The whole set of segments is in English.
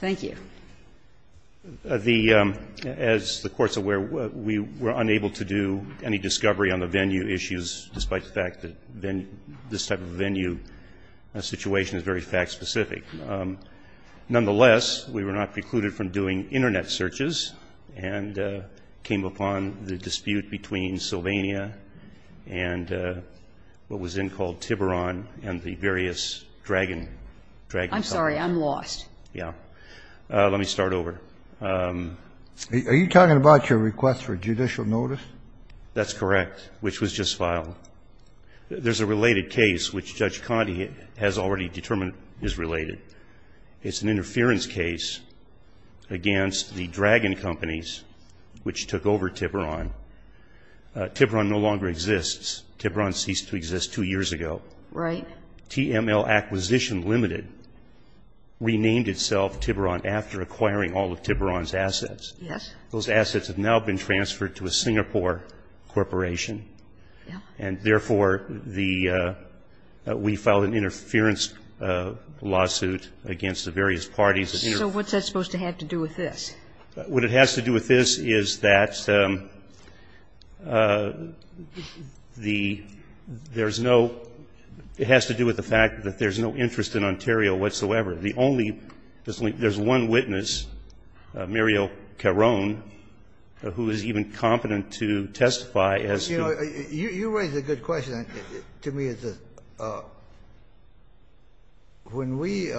Thank you. As the Court is aware, we were unable to do any discovery on the venue issues, despite the fact that this type of venue situation is very fact-specific. Nonetheless, we were not precluded from doing Internet searches and came upon the dispute between Sylvania and what was then called Tiberon and the various dragon companies. I'm sorry, I'm lost. Yeah, let me start over. Are you talking about your request for judicial notice? That's correct, which was just filed. There's a related case, which Judge Conte has already determined is related. It's an interference case against the dragon companies, which took over Tiberon. Tiberon no longer exists. Tiberon ceased to exist two years ago. Right. TML Acquisition Ltd. renamed itself Tiberon after acquiring all of Tiberon's assets. Yes. Those assets have now been transferred to a Singapore corporation. Yeah. And, therefore, the we filed an interference lawsuit against the various parties. So what's that supposed to have to do with this? What it has to do with this is that the — there's no — it has to do with the fact that there's no interest in Ontario whatsoever. The only — there's one witness, Muriel Caron, who is even competent to testify as to — You know, you raise a good question. To me, it's a — when we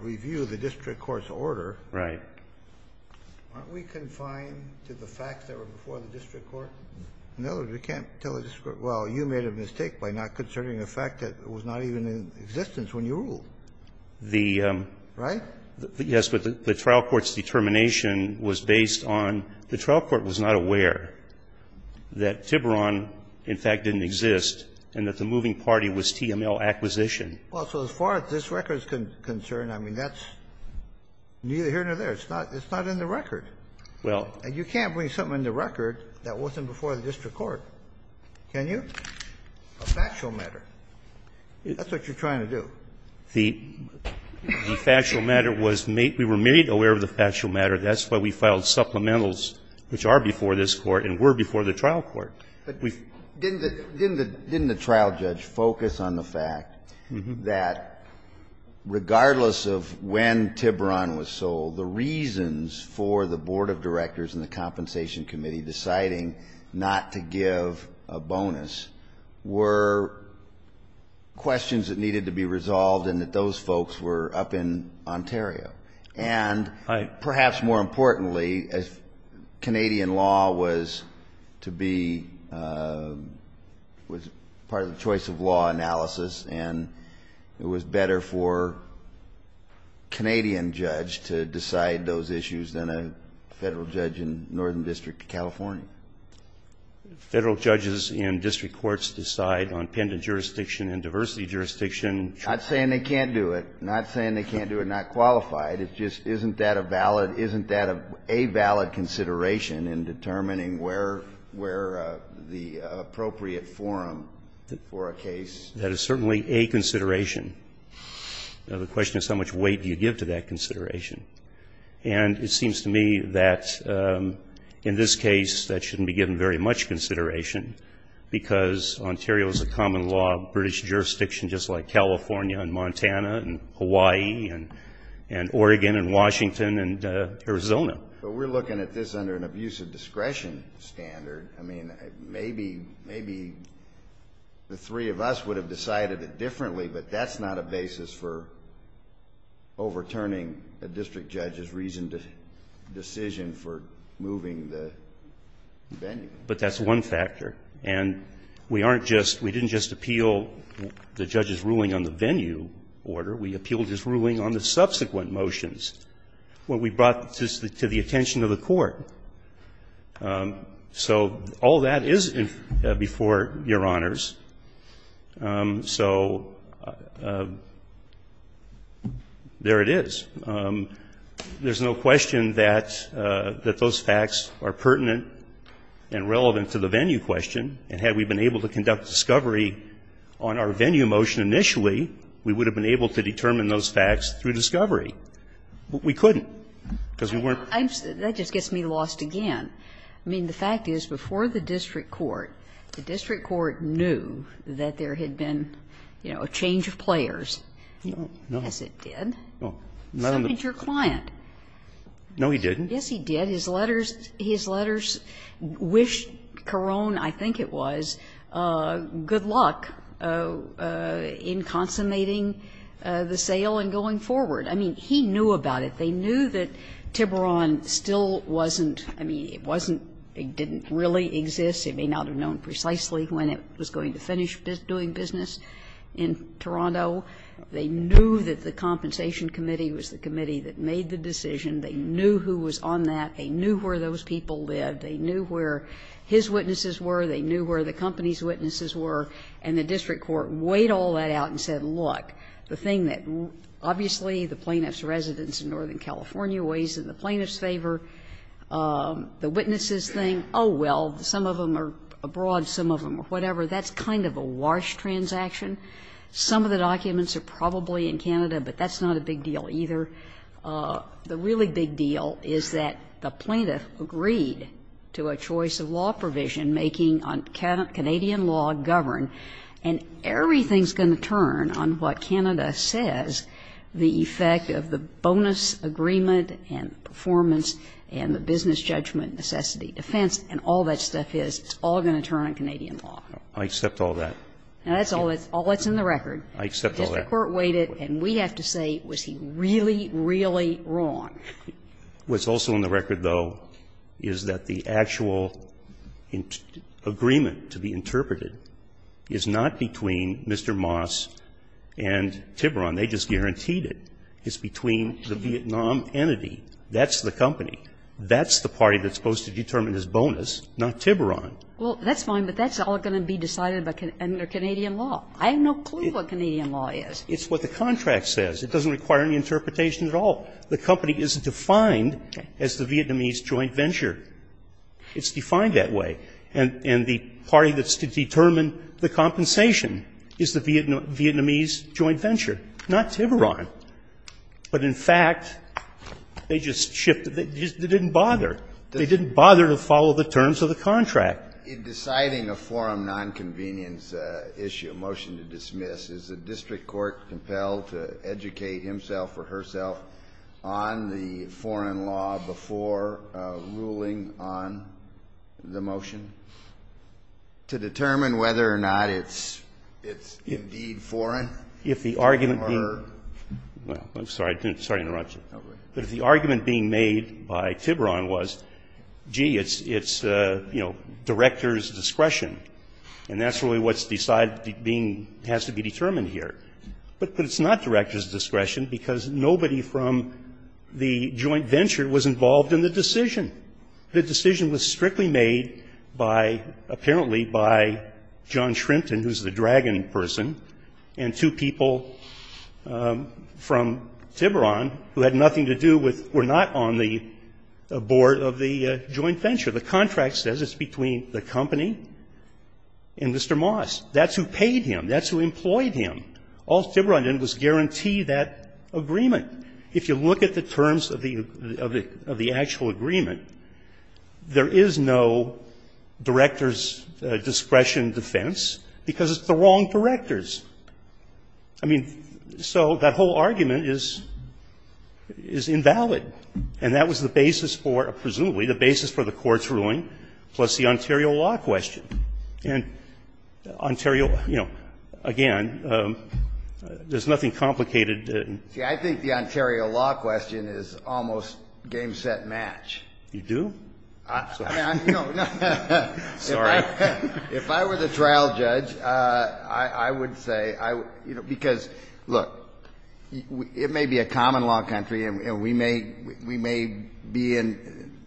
review the district court's order — Right. Aren't we confined to the facts that were before the district court? In other words, we can't tell the district court, well, you made a mistake by not considering the fact that it was not even in existence when you ruled. The — Right? Yes. Well, that's what the trial court's determination was based on. The trial court was not aware that Tiberon, in fact, didn't exist and that the moving party was TML Acquisition. Well, so as far as this record is concerned, I mean, that's neither here nor there. It's not in the record. Well — And you can't bring something in the record that wasn't before the district court, can you? A factual matter. That's what you're trying to do. The factual matter was — we were made aware of the factual matter. That's why we filed supplementals, which are before this Court and were before the trial court. But didn't the trial judge focus on the fact that regardless of when Tiberon was sold, the reasons for the board of directors and the compensation committee deciding not to give a bonus were questions that needed to be resolved and that those folks were up in Ontario. And perhaps more importantly, Canadian law was to be — was part of the choice of law analysis, and it was better for a Canadian judge to decide those issues than a Federal judge in Northern District of California. Federal judges in district courts decide on pendant jurisdiction and diversity jurisdiction. Not saying they can't do it. Not saying they can't do it, not qualified. It's just isn't that a valid — isn't that a valid consideration in determining where the appropriate forum for a case — That is certainly a consideration. The question is how much weight do you give to that consideration. And it seems to me that in this case that shouldn't be given very much consideration because Ontario is a common law British jurisdiction just like California and Montana and Hawaii and Oregon and Washington and Arizona. But we're looking at this under an abuse of discretion standard. I mean, maybe — maybe the three of us would have decided it differently, but that's not a basis for overturning a district judge's reasoned decision for moving the venue. But that's one factor. And we aren't just — we didn't just appeal the judge's ruling on the venue order. We appealed his ruling on the subsequent motions. What we brought to the attention of the Court. So all that is before Your Honors. So there it is. There's no question that those facts are pertinent and relevant to the venue question. And had we been able to conduct discovery on our venue motion initially, we would have been able to determine those facts through discovery. But we couldn't because we weren't — That just gets me lost again. I mean, the fact is before the district court, the district court knew that there had been, you know, a change of players. No. Yes, it did. No. Not on the — So did your client. No, he didn't. Yes, he did. His letters wished Carone, I think it was, good luck in consummating the sale and going forward. I mean, he knew about it. They knew that Tiburon still wasn't — I mean, it wasn't — it didn't really exist. It may not have known precisely when it was going to finish doing business in Toronto. They knew that the compensation committee was the committee that made the decision. They knew who was on that. They knew where those people lived. They knew where his witnesses were. They knew where the company's witnesses were. And the district court weighed all that out and said, look, the thing that obviously the plaintiff's residence in Northern California weighs in the plaintiff's favor, the witnesses thing, oh, well, some of them are abroad, some of them are whatever, that's kind of a wash transaction. Some of the documents are probably in Canada, but that's not a big deal either. The really big deal is that the plaintiff agreed to a choice of law provision making on Canadian law govern, and everything's going to turn on what Canada says, the effect of the bonus agreement and performance and the business judgment necessity defense and all that stuff is, it's all going to turn on Canadian law. I accept all that. And that's all that's in the record. I accept all that. Because the court weighed it, and we have to say, was he really, really wrong? What's also in the record, though, is that the actual agreement to be interpreted is not between Mr. Moss and Tiburon. They just guaranteed it. It's between the Vietnam entity. That's the company. That's the party that's supposed to determine his bonus, not Tiburon. Well, that's fine, but that's all going to be decided under Canadian law. I have no clue what Canadian law is. It's what the contract says. It doesn't require any interpretation at all. The company isn't defined as the Vietnamese joint venture. It's defined that way. And the party that's to determine the compensation is the Vietnamese joint venture, not Tiburon. But in fact, they just shifted. They didn't bother. They didn't bother to follow the terms of the contract. In deciding a forum nonconvenience issue, a motion to dismiss, is the district court compelled to educate himself or herself on the foreign law before ruling on the motion to determine whether or not it's indeed foreign? If the argument being made by Tiburon was, gee, it's director's discretion, and that's really what has to be determined here. But it's not director's discretion, because nobody from the joint venture was involved in the decision. The decision was strictly made apparently by John Shrimpton, who's the dragon person, and two people from Tiburon who had nothing to do with were not on the board of the joint venture. The contract says it's between the company and Mr. Moss. That's who paid him. That's who employed him. All Tiburon did was guarantee that agreement. If you look at the terms of the actual agreement, there is no director's discretion defense, because it's the wrong directors. I mean, so that whole argument is invalid. And that was the basis for, presumably, the basis for the court's ruling, plus the Ontario law question. And Ontario, you know, again, there's nothing complicated. See, I think the Ontario law question is almost game, set, match. You do? No. Sorry. If I were the trial judge, I would say, you know, because, look, it may be a common law country, and we may be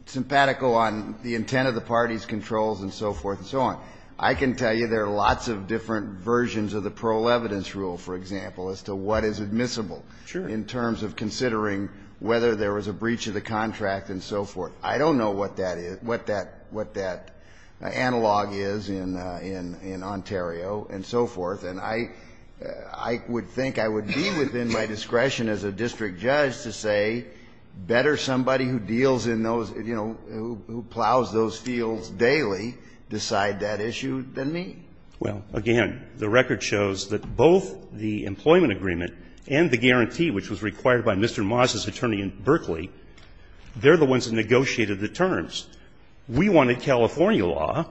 sympathetical on the intent of the party's controls and so forth and so on. I can tell you there are lots of different versions of the Pearl Evidence Rule, for example, as to what is admissible in terms of considering whether there was a breach of the contract and so forth. I don't know what that is, what that analog is in Ontario and so forth. And I would think I would be within my discretion as a district judge to say better somebody who deals in those, you know, who plows those fields daily decide that issue than me. Well, again, the record shows that both the employment agreement and the guarantee, which was required by Mr. Maas's attorney in Berkeley, they're the ones that negotiated the terms. We wanted California law,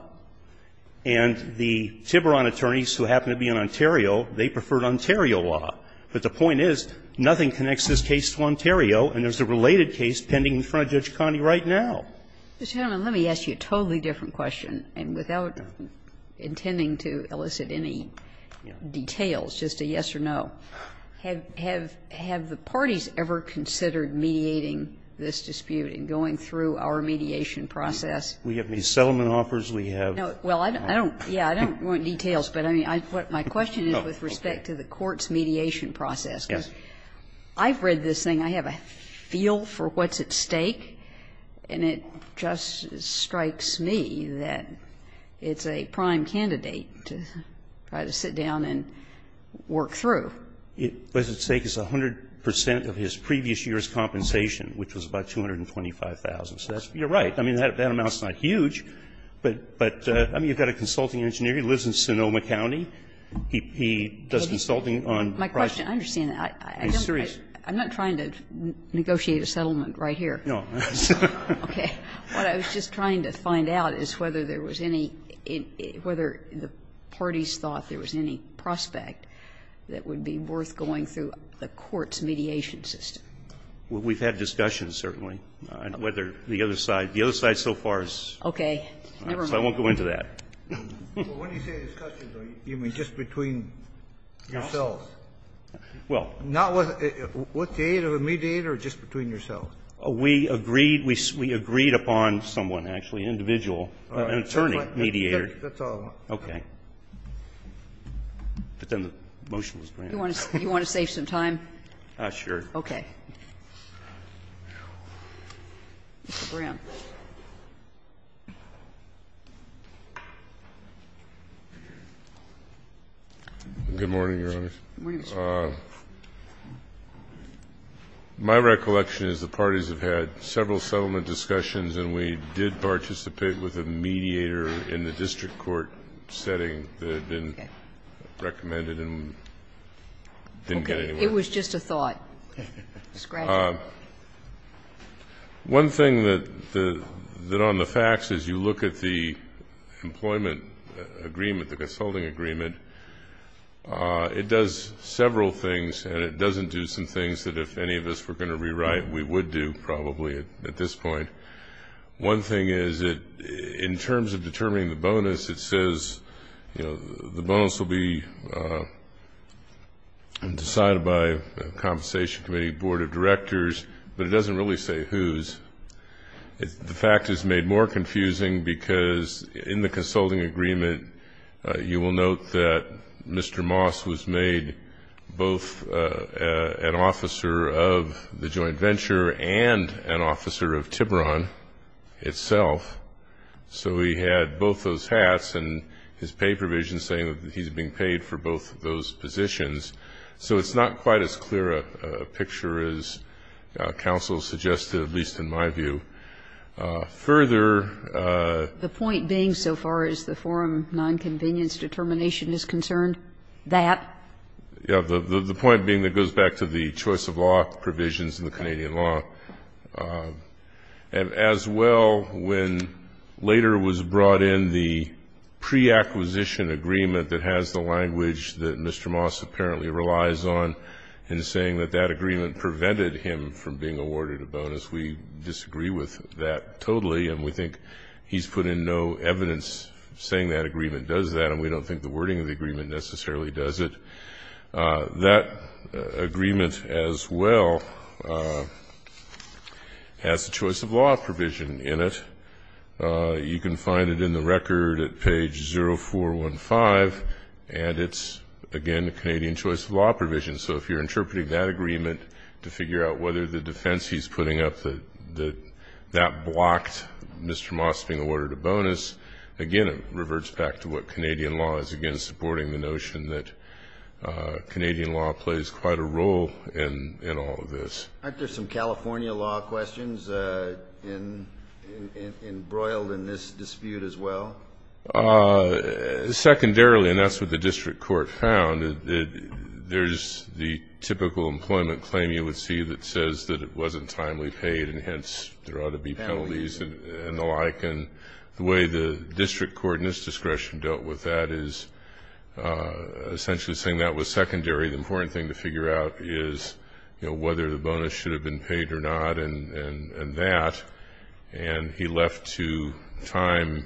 and the Tiburon attorneys, who happen to be in Ontario, they preferred Ontario law. But the point is, nothing connects this case to Ontario, and there's a related case pending in front of Judge Conde right now. Ms. Hannon, let me ask you a totally different question, and without intending to elicit any details, just a yes or no. Have the parties ever considered mediating this dispute and going through our mediation process? We have these settlement offers, we have. Well, I don't want details, but my question is with respect to the court's mediation process. I've read this thing. I have a feel for what's at stake, and it just strikes me that it's a prime candidate to try to sit down and work through. What's at stake is 100 percent of his previous year's compensation, which was about $225,000. So that's you're right. I mean, that amount's not huge, but I mean, you've got a consulting engineer. He lives in Sonoma County. He does consulting on projects. My question, I understand that. I'm not trying to negotiate a settlement right here. No. Okay. What I was just trying to find out is whether there was any – whether the parties thought there was any prospect that would be worth going through the court's mediation system. We've had discussions, certainly, on whether the other side – the other side so far has – Okay. Never mind. So I won't go into that. Well, when you say discussions, you mean just between yourselves? Well – Not with the aid of a mediator or just between yourselves? We agreed – we agreed upon someone, actually, individual, an attorney, mediator. That's all. Okay. But then the motion was granted. You want to save some time? Sure. Okay. Good morning, Your Honors. Good morning, Mr. Brown. My recollection is the parties have had several settlement discussions and we did participate with a mediator in the district court setting that had been recommended and didn't get anywhere. Okay. It was just a thought. It was granted. One thing that the – that on the facts, as you look at the employment agreement, the consulting agreement, it does several things and it doesn't do some things that if any of us were going to rewrite, we would do probably at this point. One thing is that in terms of determining the bonus, it says, you know, the bonus will be decided by a conversation committee, board of directors, but it doesn't really say who's. The fact is made more confusing because in the consulting agreement, you will note that Mr. Moss was made both an officer of the joint venture and an officer of Tiburon itself. So he had both those hats and his pay provision saying that he's being paid for both of those positions. So it's not quite as clear a picture as counsel suggested, at least in my view. Further – The point being so far as the forum nonconvenience determination is concerned, that – Yeah. The point being that goes back to the choice of law provisions in the Canadian law. As well, when later was brought in the preacquisition agreement that has the language that Mr. Moss apparently relies on in saying that that agreement prevented him from being awarded a bonus, we disagree with that totally and we think he's put in no evidence saying that agreement does that and we don't think the wording of the agreement necessarily does it. That agreement as well has the choice of law provision in it. You can find it in the record at page 0415 and it's, again, the Canadian choice of law provision. So if you're interpreting that agreement to figure out whether the defense he's putting up that that blocked Mr. Moss being awarded a bonus, again, it reverts back to what Canadian law is, again, supporting the notion that Canadian law plays quite a role in all of this. Aren't there some California law questions embroiled in this dispute as well? Secondarily, and that's what the district court found, there's the typical employment claim you would see that says that it wasn't timely paid and hence there ought to be penalties and the like. And the way the district court in its discretion dealt with that is essentially saying that was secondary. The important thing to figure out is, you know, whether the bonus should have been paid or not and that. And he left to time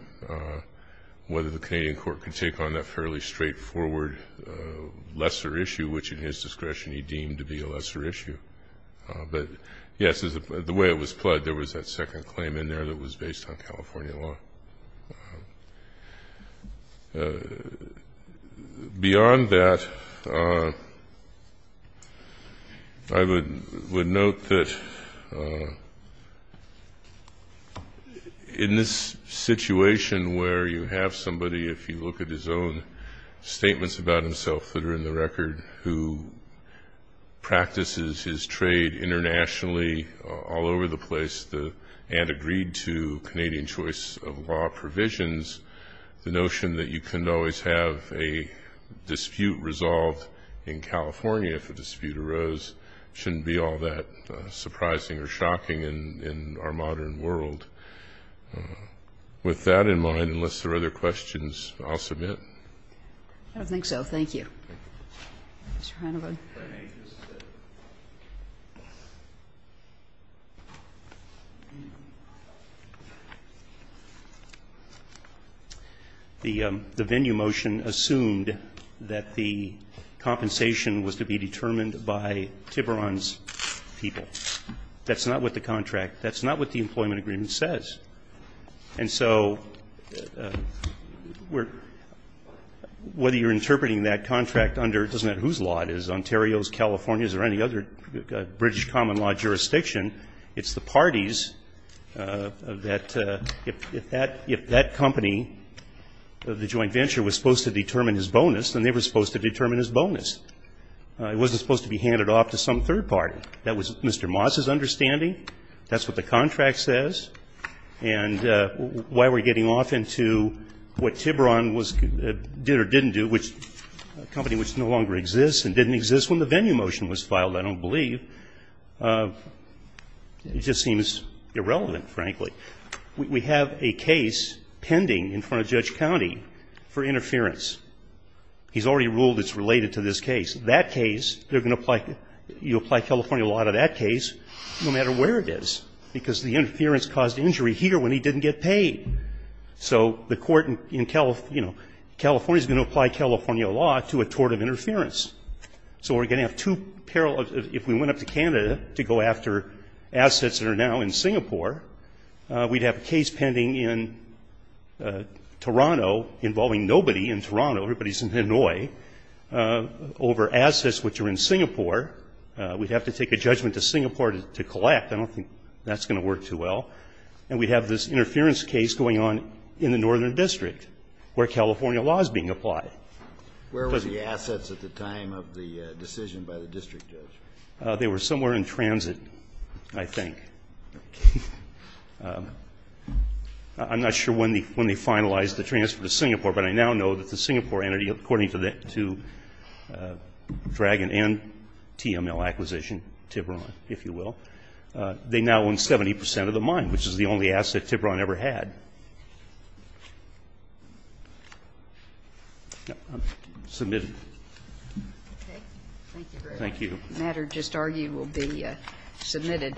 whether the Canadian court could take on that fairly straightforward lesser issue, which in his discretion he deemed to be a lesser issue. But, yes, the way it was pled, there was that second claim in there that was based on California law. Beyond that, I would note that in this situation where you have somebody, if you look at his own statements about himself that are in the record, who practices his trade internationally all over the place and agreed to Canadian choice of law provisions, the notion that you can't always have a dispute resolved in California if a dispute arose shouldn't be all that surprising or shocking in our modern world. With that in mind, unless there are other questions, I'll submit. I don't think so. Thank you. Mr. Reinold. The venue motion assumed that the compensation was to be determined by Tiburon's people. That's not what the contract, that's not what the employment agreement says. And so whether you're interpreting that contract under, it doesn't matter whose law it is, whether it's Ontario's, California's, or any other British common law jurisdiction, it's the parties that, if that company, the joint venture, was supposed to determine his bonus, then they were supposed to determine his bonus. It wasn't supposed to be handed off to some third party. That was Mr. Moss's understanding. That's what the contract says. And why we're getting off into what Tiburon did or didn't do, which a company which no compensation exists when the venue motion was filed, I don't believe, it just seems irrelevant, frankly. We have a case pending in front of Judge County for interference. He's already ruled it's related to this case. That case, they're going to apply, you apply California law to that case no matter where it is, because the interference caused injury here when he didn't get paid. So the court in California is going to apply California law to a tort of interference. So we're going to have two parallels. If we went up to Canada to go after assets that are now in Singapore, we'd have a case pending in Toronto involving nobody in Toronto, everybody's in Hanoi, over assets which are in Singapore. We'd have to take a judgment to Singapore to collect. I don't think that's going to work too well. And we'd have this interference case going on in the Northern District where California law is being applied. Where were the assets at the time of the decision by the district judge? They were somewhere in transit, I think. I'm not sure when they finalized the transfer to Singapore, but I now know that the Singapore entity, according to Dragon and TML acquisition, Tiburon, if you will, they now own 70% of the mine, which is the only asset Tiburon ever had. Submitted. Thank you. The matter just argued will be submitted.